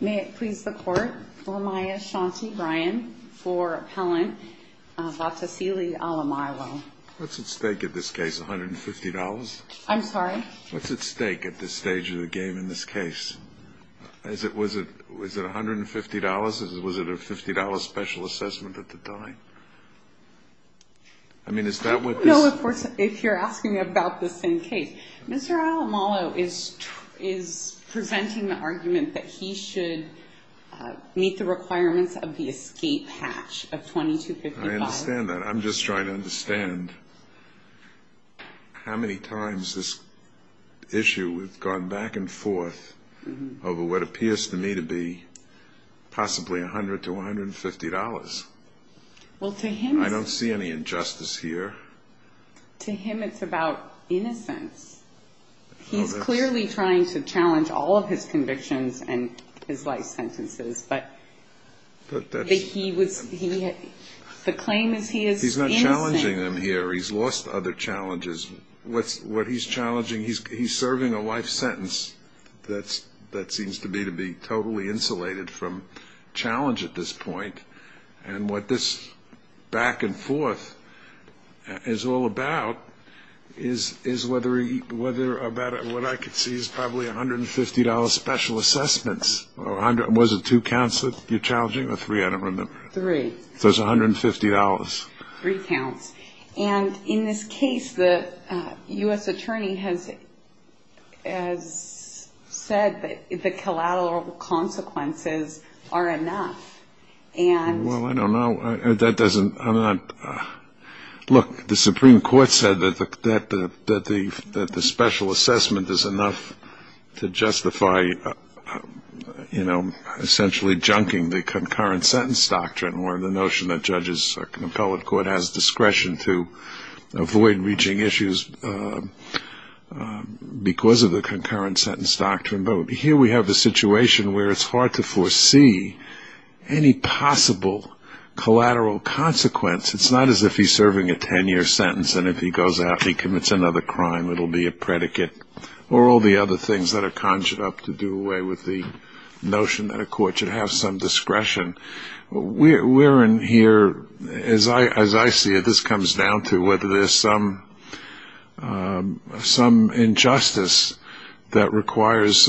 May it please the Court, Lamiya Shanti Ryan for Appellant Vaatausili Alaimalo. What's at stake at this case, $150? I'm sorry? What's at stake at this stage of the game in this case? Was it $150 or was it a $50 special assessment at the time? I mean, is that what this... No, of course, if you're asking about the same case. Mr. Alaimalo is presenting the argument that he should meet the requirements of the escape hatch of 2255. I understand that. I'm just trying to understand how many times this issue has gone back and forth over what appears to me to be possibly $100 to $150. Well, to him... I don't see any injustice here. To him it's about innocence. He's clearly trying to challenge all of his convictions and his life sentences, but the claim is he is innocent. He's not challenging them here. He's lost other challenges. What he's challenging, he's serving a life sentence that seems to me to be totally insulated from challenge at this point. What this back and forth is all about is whether or not what I can see is probably $150 special assessments. Was it two counts that you're challenging or three? I don't remember. Three. So it's $150. Three counts. And in this case, the U.S. attorney has said that the collateral consequences are enough and... Well, I don't know. That doesn't... Look, the Supreme Court said that the special assessment is enough to justify, you know, essentially junking the concurrent sentence doctrine, or the notion that judges or an appellate court has discretion to avoid reaching issues because of the concurrent sentence doctrine. But here we have a situation where it's hard to foresee any possible collateral consequence. It's not as if he's serving a 10-year sentence, and if he goes out and he commits another crime, it will be a predicate, or all the other things that are conjured up to do away with the notion that a court should have some discretion. We're in here, as I see it, this comes down to whether there's some injustice that requires,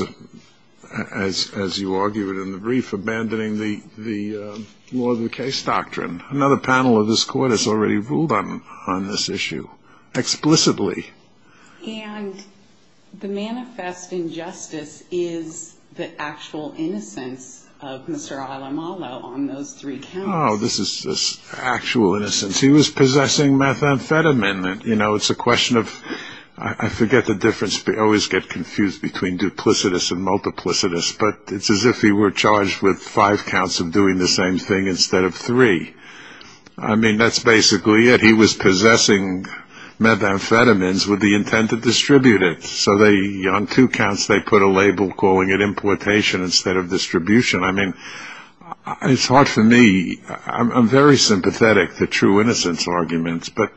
as you argued in the brief, abandoning the law of the case doctrine. Another panel of this court has already ruled on this issue explicitly. And the manifest injustice is the actual innocence of Mr. Alamalo on those three counts. Oh, this is actual innocence. He was possessing methamphetamine. You know, it's a question of... I forget the difference. I always get confused between duplicitous and multiplicitous, but it's as if he were charged with five counts of doing the same thing instead of three. I mean, that's basically it. He was possessing methamphetamines with the intent to distribute it, so on two counts they put a label calling it importation instead of distribution. I mean, it's hard for me. I'm very sympathetic to true innocence arguments, but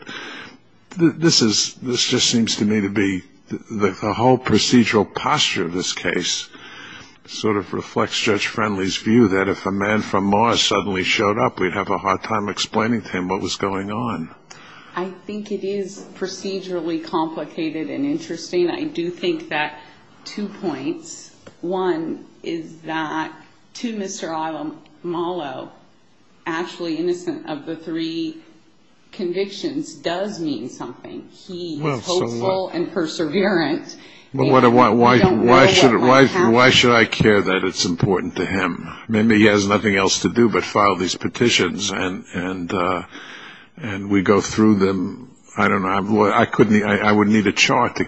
this just seems to me to be the whole procedural posture of this case. It sort of reflects Judge Friendly's view that if a man from Mars suddenly showed up, we'd have a hard time explaining to him what was going on. I think it is procedurally complicated and interesting. I do think that two points. One is that to Mr. Alamalo, actually innocent of the three convictions does mean something. He is hopeful and perseverant. But why should I care that it's important to him? Maybe he has nothing else to do but file these petitions and we go through them. I don't know. I wouldn't need a chart to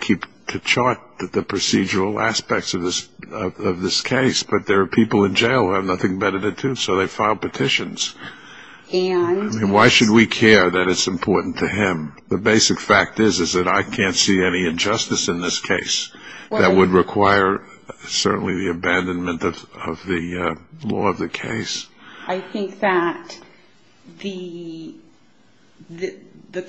chart the procedural aspects of this case, but there are people in jail who have nothing better to do, so they file petitions. Why should we care that it's important to him? The basic fact is that I can't see any injustice in this case that would require certainly the abandonment of the law of the case. I think that the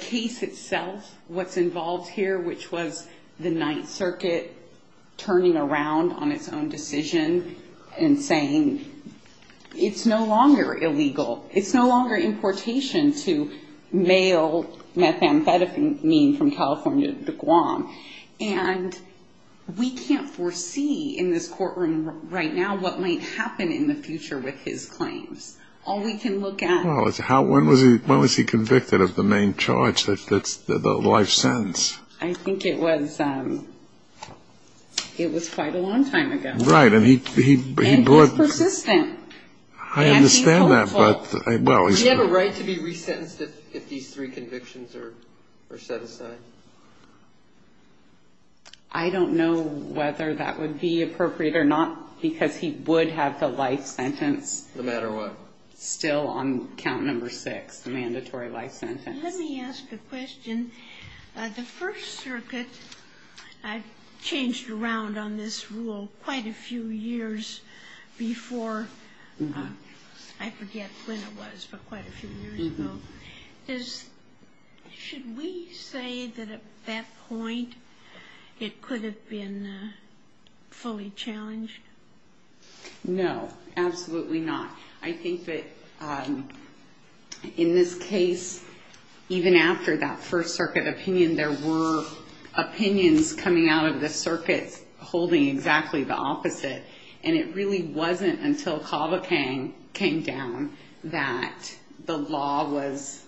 case itself, what's involved here, which was the Ninth Circuit turning around on its own decision and saying it's no longer illegal, it's no longer importation to mail methamphetamine from California to Guam. And we can't foresee in this courtroom right now what might happen in the future with his claims. All we can look at is when was he convicted of the main charge, the life sentence? I think it was quite a long time ago. Right. And he was persistent. I understand that. Does he have a right to be resentenced if these three convictions are set aside? I don't know whether that would be appropriate or not, because he would have the life sentence still on count number six, the mandatory life sentence. Let me ask a question. The First Circuit changed around on this rule quite a few years before. I forget when it was, but quite a few years ago. Should we say that at that point it could have been fully challenged? No, absolutely not. I think that in this case, even after that First Circuit opinion, there were opinions coming out of the circuits holding exactly the opposite, and it really wasn't until Cavapang came down that the law was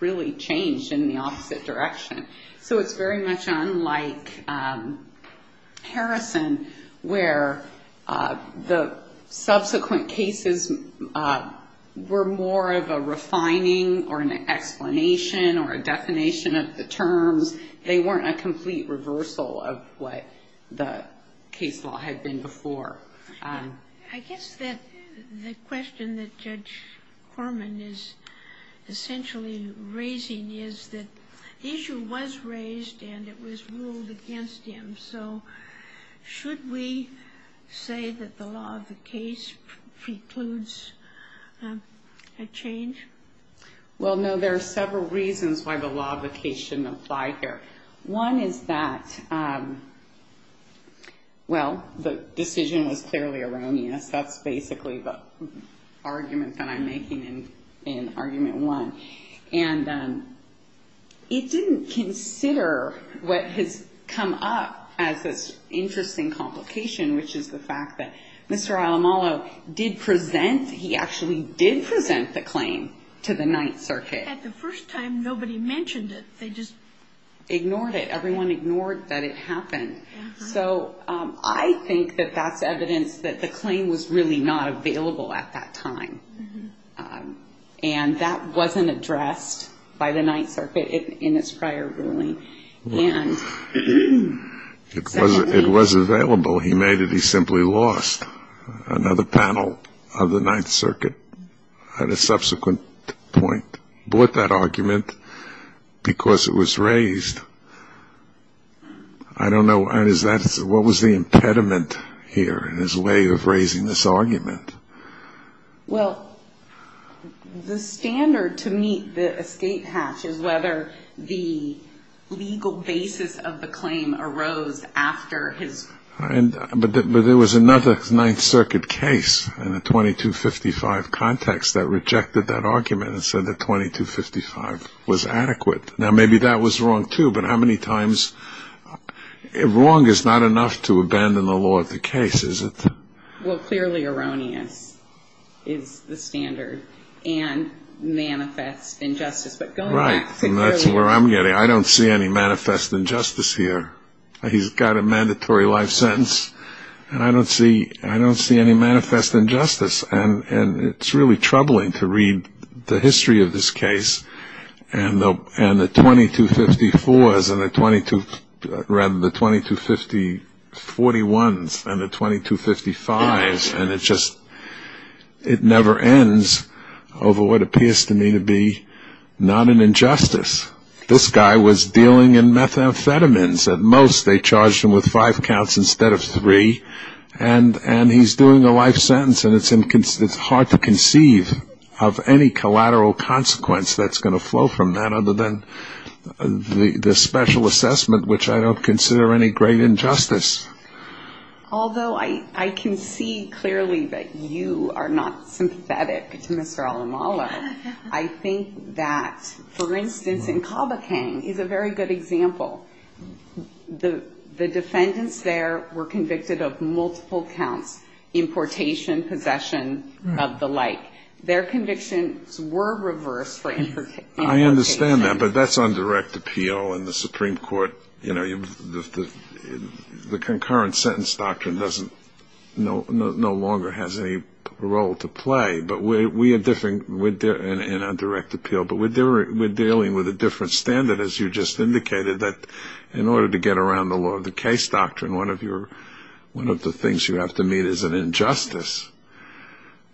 really changed in the opposite direction. So it's very much unlike Harrison, where the subsequent cases were more of a refining or an explanation or a definition of the terms. They weren't a complete reversal of what the case law had been before. I guess that the question that Judge Horman is essentially raising is that the issue was raised and it was ruled against him. So should we say that the law of the case precludes a change? Well, no, there are several reasons why the law of the case shouldn't apply here. One is that, well, the decision was clearly erroneous. That's basically the argument that I'm making in Argument 1. And it didn't consider what has come up as this interesting complication, which is the fact that Mr. Alamalo did present, he actually did present the claim to the Ninth Circuit. At the first time, nobody mentioned it. They just ignored it. Everyone ignored that it happened. So I think that that's evidence that the claim was really not available at that time. And that wasn't addressed by the Ninth Circuit in its prior ruling. It was available. He made it. He simply lost another panel of the Ninth Circuit at a subsequent point, brought that argument because it was raised. I don't know. What was the impediment here in his way of raising this argument? Well, the standard to meet the escape hatch is whether the legal basis of the claim arose after his. But there was another Ninth Circuit case in the 2255 context that rejected that argument and said that 2255 was adequate. Now, maybe that was wrong, too. But how many times wrong is not enough to abandon the law of the case, is it? Well, clearly erroneous is the standard, and manifest injustice. But going back to clearly erroneous. Right, and that's where I'm getting. I don't see any manifest injustice here. He's got a mandatory life sentence, and I don't see any manifest injustice. And it's really troubling to read the history of this case and the 2254s and the 22, rather, the 2251s and the 2255s, and it just never ends over what appears to me to be not an injustice. This guy was dealing in methamphetamines at most. They charged him with five counts instead of three. And he's doing a life sentence, and it's hard to conceive of any collateral consequence that's going to flow from that other than the special assessment, which I don't consider any great injustice. Although I can see clearly that you are not sympathetic to Mr. Alamalo, I think that, for instance, in Kabakang is a very good example. The defendants there were convicted of multiple counts, importation, possession of the like. Their convictions were reversed for importation. I understand that, but that's on direct appeal in the Supreme Court. You know, the concurrent sentence doctrine no longer has any role to play, but we are dealing with a different standard, as you just indicated, that in order to get around the law of the case doctrine, one of the things you have to meet is an injustice.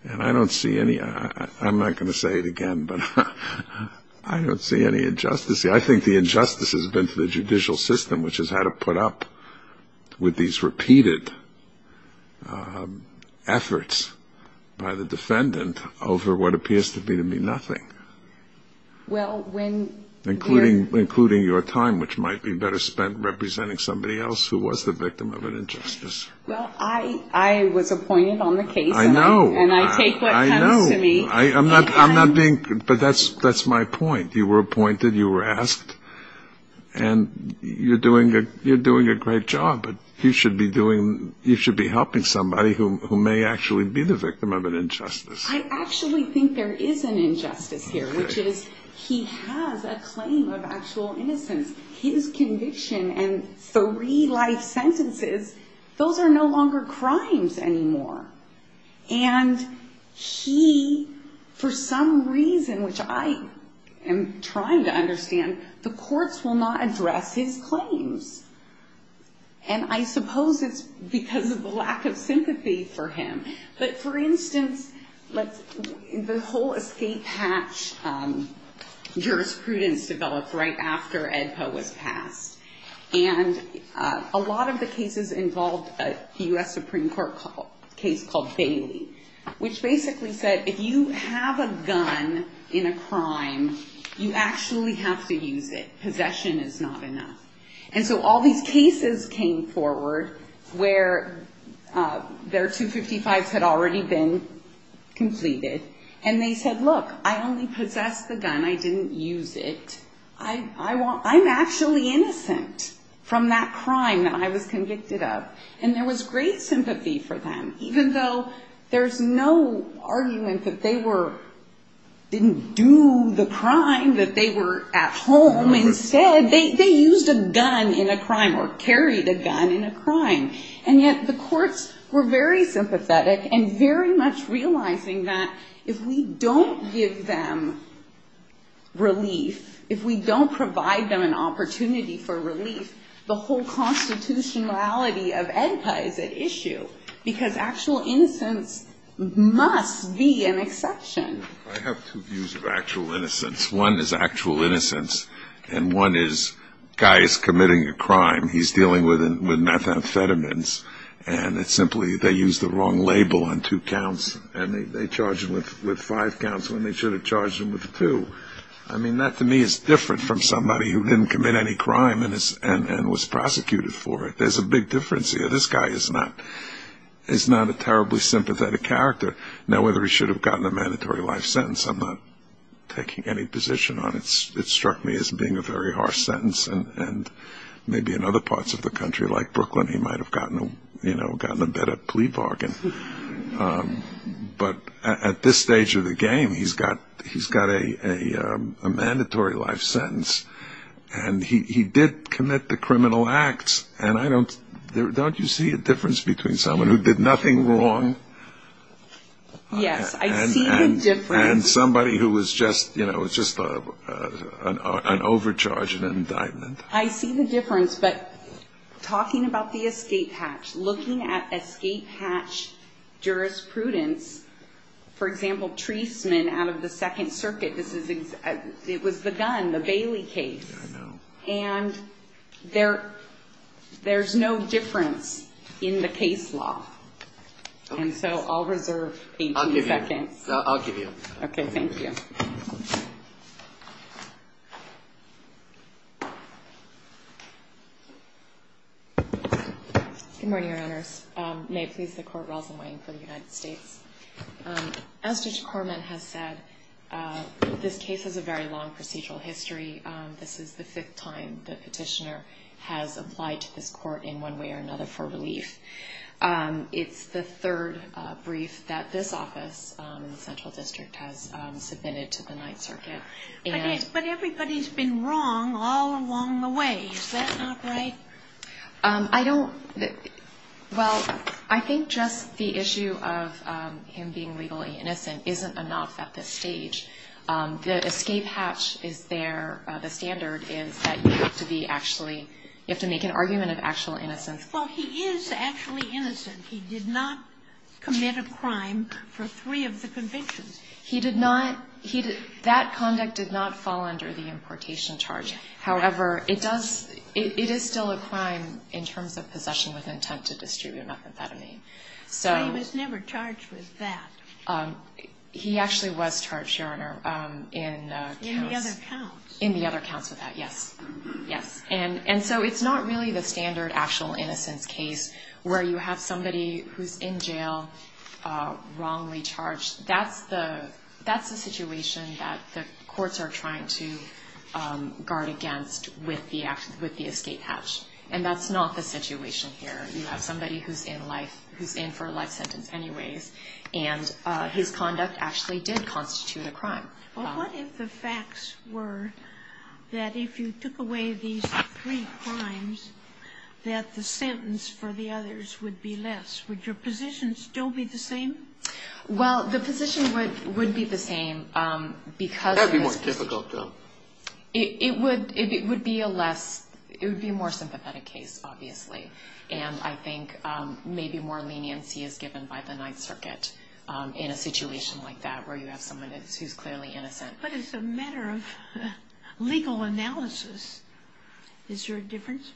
And I don't see any. I'm not going to say it again, but I don't see any injustice here. I think the injustice has been for the judicial system, which has had to put up with these repeated efforts by the defendant over what appears to me to be nothing. Including your time, which might be better spent representing somebody else who was the victim of an injustice. Well, I was appointed on the case. I know. And I take what comes to me. I know. But that's my point. You were appointed, you were asked, and you're doing a great job, but you should be helping somebody who may actually be the victim of an injustice. I actually think there is an injustice here, which is he has a claim of actual innocence. His conviction and three life sentences, those are no longer crimes anymore. And he, for some reason, which I am trying to understand, the courts will not address his claims. And I suppose it's because of the lack of sympathy for him. But, for instance, the whole escape hatch jurisprudence developed right after Ed Poe was passed. And a lot of the cases involved a U.S. Supreme Court case called Bailey, which basically said if you have a gun in a crime, you actually have to use it. Possession is not enough. And so all these cases came forward where their 255s had already been completed. And they said, look, I only possess the gun. I didn't use it. I'm actually innocent from that crime that I was convicted of. And there was great sympathy for them, even though there's no argument that they didn't do the crime, that they were at home instead. They used a gun in a crime or carried a gun in a crime. And yet the courts were very sympathetic and very much realizing that if we don't give them relief, if we don't provide them an opportunity for relief, the whole constitutionality of Ed Poe is at issue, because actual innocence must be an exception. I have two views of actual innocence. One is actual innocence, and one is a guy is committing a crime. He's dealing with methamphetamines, and it's simply they used the wrong label on two counts, and they charged him with five counts when they should have charged him with two. I mean, that to me is different from somebody who didn't commit any crime and was prosecuted for it. There's a big difference here. This guy is not a terribly sympathetic character. Now, whether he should have gotten a mandatory life sentence, I'm not taking any position on it. It struck me as being a very harsh sentence, and maybe in other parts of the country, like Brooklyn, he might have gotten a better plea bargain. But at this stage of the game, he's got a mandatory life sentence, and he did commit the criminal acts, and don't you see a difference between someone who did nothing wrong and somebody who was just an overcharge in an indictment? I see the difference, but talking about the escape hatch, looking at escape hatch jurisprudence, for example, Treisman out of the Second Circuit, it was the gun, the Bailey case, and there's no difference in the case law. And so I'll reserve 18 seconds. I'll give you. Okay. Thank you. Good morning, Your Honors. May it please the Court, Rosalyn Wang for the United States. As Judge Korman has said, this case has a very long procedural history. This is the fifth time the petitioner has applied to this Court in one way or another for relief. It's the third brief that this office in the Central District has submitted to the Ninth Circuit. But everybody's been wrong all along the way. Is that not right? I don't – well, I think just the issue of him being legally innocent isn't enough at this stage. The escape hatch is there. The standard is that you have to be actually – you have to make an argument of actual innocence. Well, he is actually innocent. He did not commit a crime for three of the convictions. He did not – that conduct did not fall under the importation charge. However, it does – it is still a crime in terms of possession with intent to distribute methamphetamine. So he was never charged with that. He actually was charged, Your Honor, in counts. In the other counts. In the other counts with that, yes. Yes. And so it's not really the standard actual innocence case where you have somebody who's in jail wrongly charged. That's the situation that the courts are trying to guard against with the escape hatch. And that's not the situation here. You have somebody who's in life – who's in for a life sentence anyways. And his conduct actually did constitute a crime. Well, what if the facts were that if you took away these three crimes, that the sentence for the others would be less? Would your position still be the same? Well, the position would be the same because – That would be more difficult, though. It would be a less – it would be a more sympathetic case, obviously. And I think maybe more leniency is given by the Ninth Circuit in a situation like that where you have someone who's clearly innocent. But as a matter of legal analysis, is there a difference?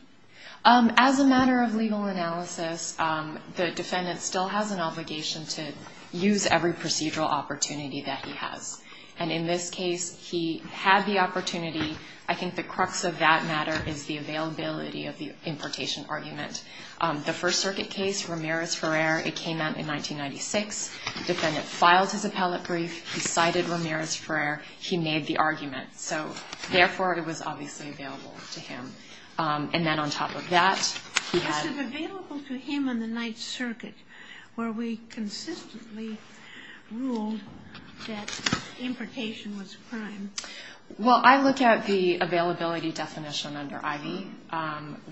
As a matter of legal analysis, the defendant still has an obligation to use every procedural opportunity that he has. And in this case, he had the opportunity. I think the crux of that matter is the availability of the importation argument. The First Circuit case, Ramirez-Ferrer, it came out in 1996. The defendant filed his appellate brief. He cited Ramirez-Ferrer. He made the argument. So therefore, it was obviously available to him. And then on top of that, he had – This is available to him in the Ninth Circuit where we consistently ruled that importation was a crime. Well, I look at the availability definition under Ivey,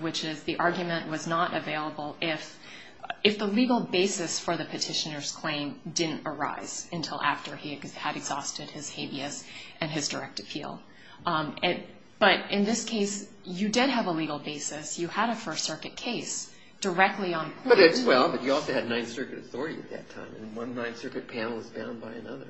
which is the argument was not available if the legal basis for the petitioner's claim didn't arise until after he had exhausted his habeas and his direct appeal. But in this case, you did have a legal basis. You had a First Circuit case directly on point. Well, but you also had Ninth Circuit authority at that time, and one Ninth Circuit panel is bound by another.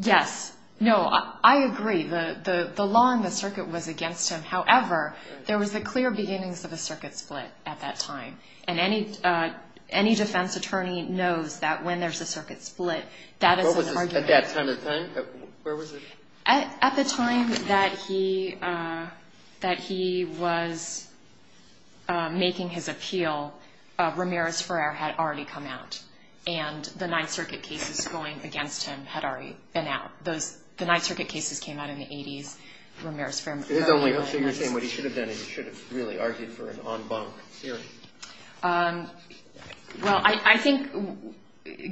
Yes. No, I agree. The law in the circuit was against him. However, there was the clear beginnings of a circuit split at that time, and any defense attorney knows that when there's a circuit split, that is an argument. What was it at that time of time? Where was it? At the time that he was making his appeal, Ramirez-Ferrer had already come out, and the Ninth Circuit cases going against him had already been out. The Ninth Circuit cases came out in the 80s. Ramirez-Ferrer was very early in his career. So you're saying what he should have done is he should have really argued for an en banc hearing? Well, I think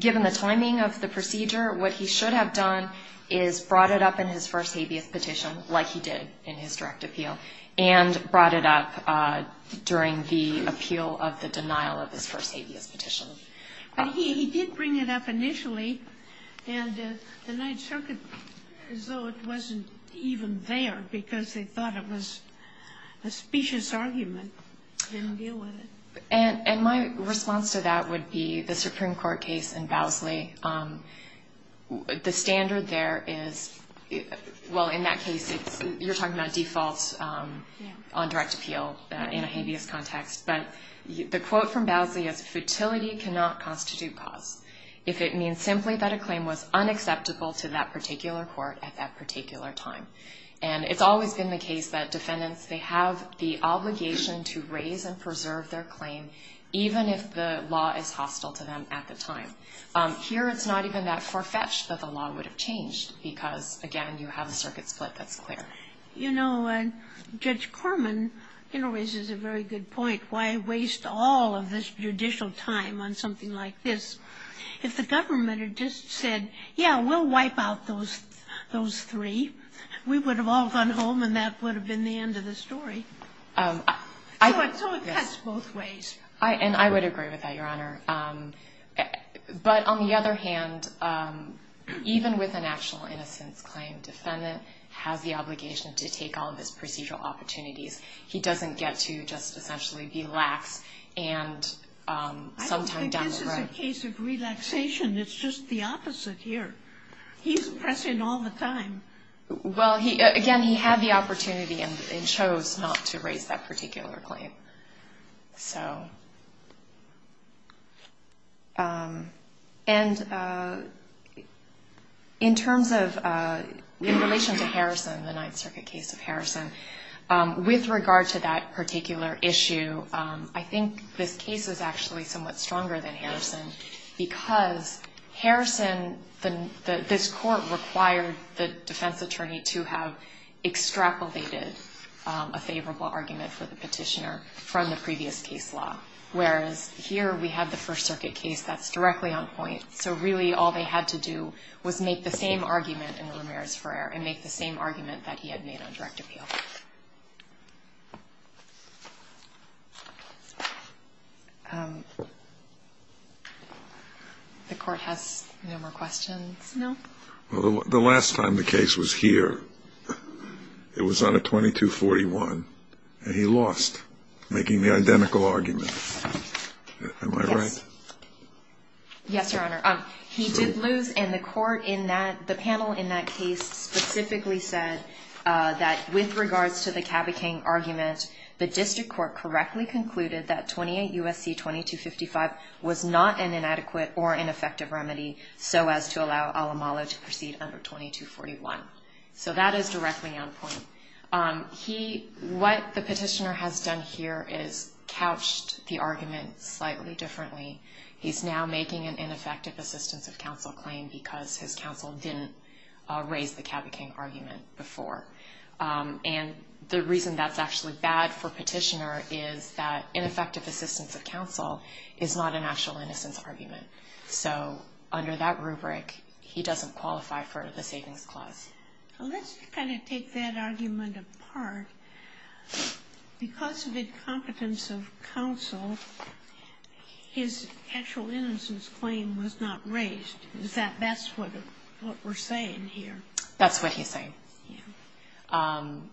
given the timing of the procedure, what he should have done is brought it up in his first habeas petition like he did in his direct appeal and brought it up during the appeal of the denial of his first habeas petition. But he did bring it up initially, and the Ninth Circuit, as though it wasn't even there because they thought it was a specious argument, didn't deal with it. And my response to that would be the Supreme Court case in Bousley. The standard there is, well, in that case, you're talking about defaults on direct appeal in a habeas context. But the quote from Bousley is, Fertility cannot constitute cause if it means simply that a claim was unacceptable to that particular court at that particular time. And it's always been the case that defendants, they have the obligation to raise and preserve their claim even if the law is hostile to them at the time. Here it's not even that far-fetched that the law would have changed because, again, you have a circuit split that's clear. You know, Judge Corman, you know, raises a very good point. Why waste all of this judicial time on something like this? If the government had just said, yeah, we'll wipe out those three, we would have all gone home and that would have been the end of the story. So it cuts both ways. And I would agree with that, Your Honor. But on the other hand, even with an actual innocence claim, defendant has the obligation to take all of his procedural opportunities. He doesn't get to just essentially be lax and sometime down the road. I don't think this is a case of relaxation. It's just the opposite here. He's pressing all the time. Well, again, he had the opportunity and chose not to raise that particular claim. So and in terms of in relation to Harrison, the Ninth Circuit case of Harrison, with regard to that particular issue, I think this case is actually somewhat stronger than Harrison because Harrison, this court required the defense attorney to have extrapolated a favorable argument for the petitioner. From the previous case law, whereas here we have the First Circuit case that's directly on point. So really all they had to do was make the same argument in Ramirez-Ferrer and make the same argument that he had made on direct appeal. No. The last time the case was here, it was on a 2241, and he lost making the identical argument. Am I right? Yes, Your Honor. He did lose, and the panel in that case specifically said that with regards to the Caba King argument, the district court correctly concluded that 28 U.S.C. 2255 was not an inadequate or ineffective remedy so as to allow Alamalo to proceed under 2241. So that is directly on point. What the petitioner has done here is couched the argument slightly differently. He's now making an ineffective assistance of counsel claim because his counsel didn't raise the Caba King argument before. And the reason that's actually bad for petitioner is that ineffective assistance of counsel is not an actual innocence argument. So under that rubric, he doesn't qualify for the savings clause. Let's kind of take that argument apart. Because of incompetence of counsel, his actual innocence claim was not raised. Is that what we're saying here? That's what he's saying. I'm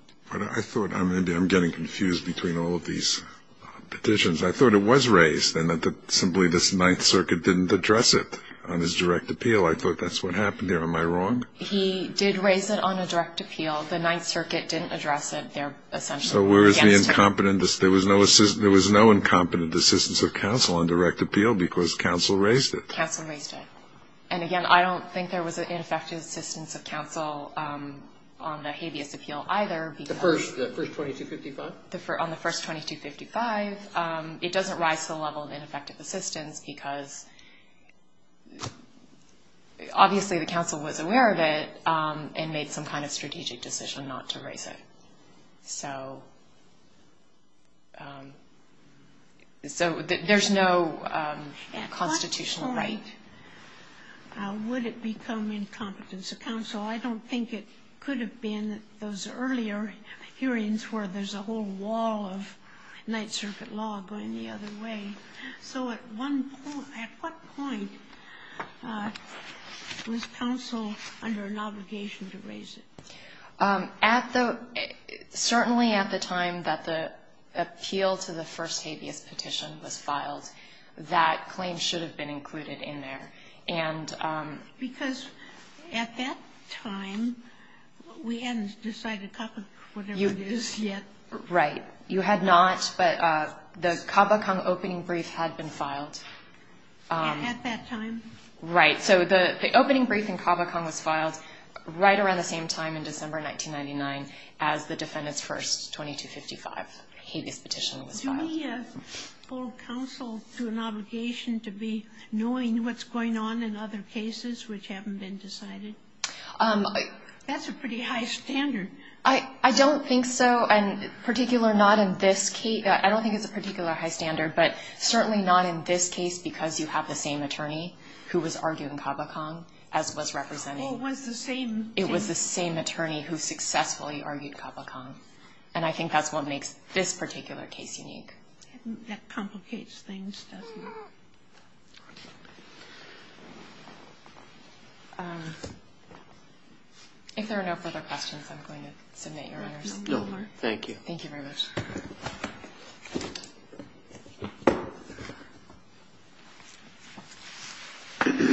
getting confused between all of these petitions. I thought it was raised in that simply this Ninth Circuit didn't address it on his direct appeal. I thought that's what happened there. Am I wrong? He did raise it on a direct appeal. The Ninth Circuit didn't address it there essentially. So where is the incompetent? There was no incompetent assistance of counsel on direct appeal because counsel raised it. Counsel raised it. And, again, I don't think there was an ineffective assistance of counsel on the habeas appeal either. The first 2255? On the first 2255, it doesn't rise to the level of ineffective assistance because obviously the counsel was aware of it and made some kind of strategic decision not to raise it. So there's no constitutional right. At what point would it become incompetence of counsel? I don't think it could have been those earlier hearings where there's a whole wall of Ninth Circuit law going the other way. So at what point was counsel under an obligation to raise it? Certainly at the time that the appeal to the first habeas petition was filed. That claim should have been included in there. Because at that time, we hadn't decided whatever it is yet. Right. You had not, but the Caba-Kung opening brief had been filed. At that time? Right. So the opening brief in Caba-Kung was filed right around the same time in December 1999 as the defendant's first 2255 habeas petition was filed. Would we hold counsel to an obligation to be knowing what's going on in other cases which haven't been decided? That's a pretty high standard. I don't think so, and particularly not in this case. I don't think it's a particularly high standard, but certainly not in this case because you have the same attorney who was arguing Caba-Kung, as was representing the same attorney who successfully argued Caba-Kung. And I think that's what makes this particular case unique. That complicates things, doesn't it? If there are no further questions, I'm going to submit your honors. No, thank you. Thank you very much. Thank you.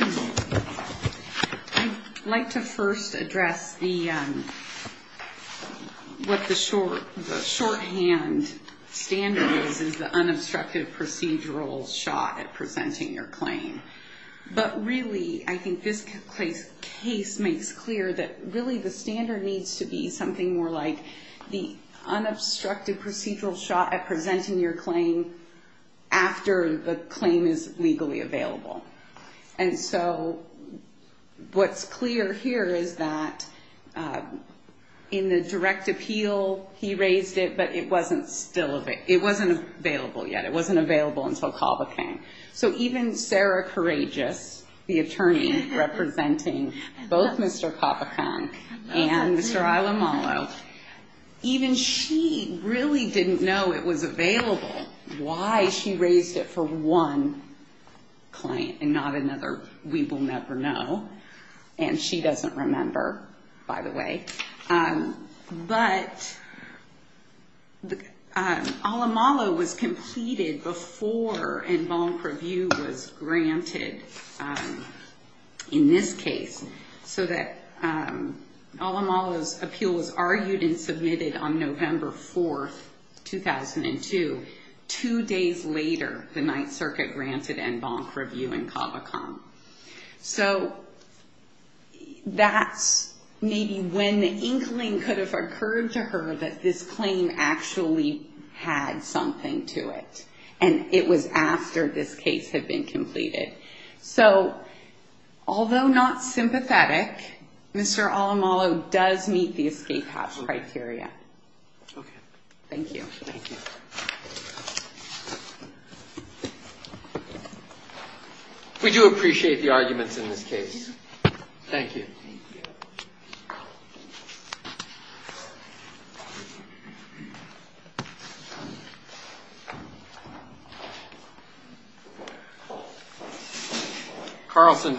I'd like to first address what the shorthand standard is, is the unobstructed procedural shot at presenting your claim. But really, I think this case makes clear that really the standard needs to be something more like the unobstructed procedural shot at presenting your claim after the claim is legally available. And so what's clear here is that in the direct appeal, he raised it, but it wasn't available yet. It wasn't available until Caba-Kung. So even Sarah Courageous, the attorney representing both Mr. Caba-Kung and Mr. Alamalo, even she really didn't know it was available. Why she raised it for one client and not another, we will never know. And she doesn't remember, by the way. But Alamalo was completed before En Bon Preview was granted, in this case, so that Alamalo's appeal was argued and submitted on November 4, 2002, two days later the Ninth Circuit granted En Bon Preview and Caba-Kung. So that's maybe when the inkling could have occurred to her that this claim actually had something to it, and it was after this case had been completed. So although not sympathetic, Mr. Alamalo does meet the escape hatch criteria. Okay. Thank you. Thank you. We do appreciate the arguments in this case. Thank you. Thank you. Thank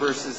you. Thank you.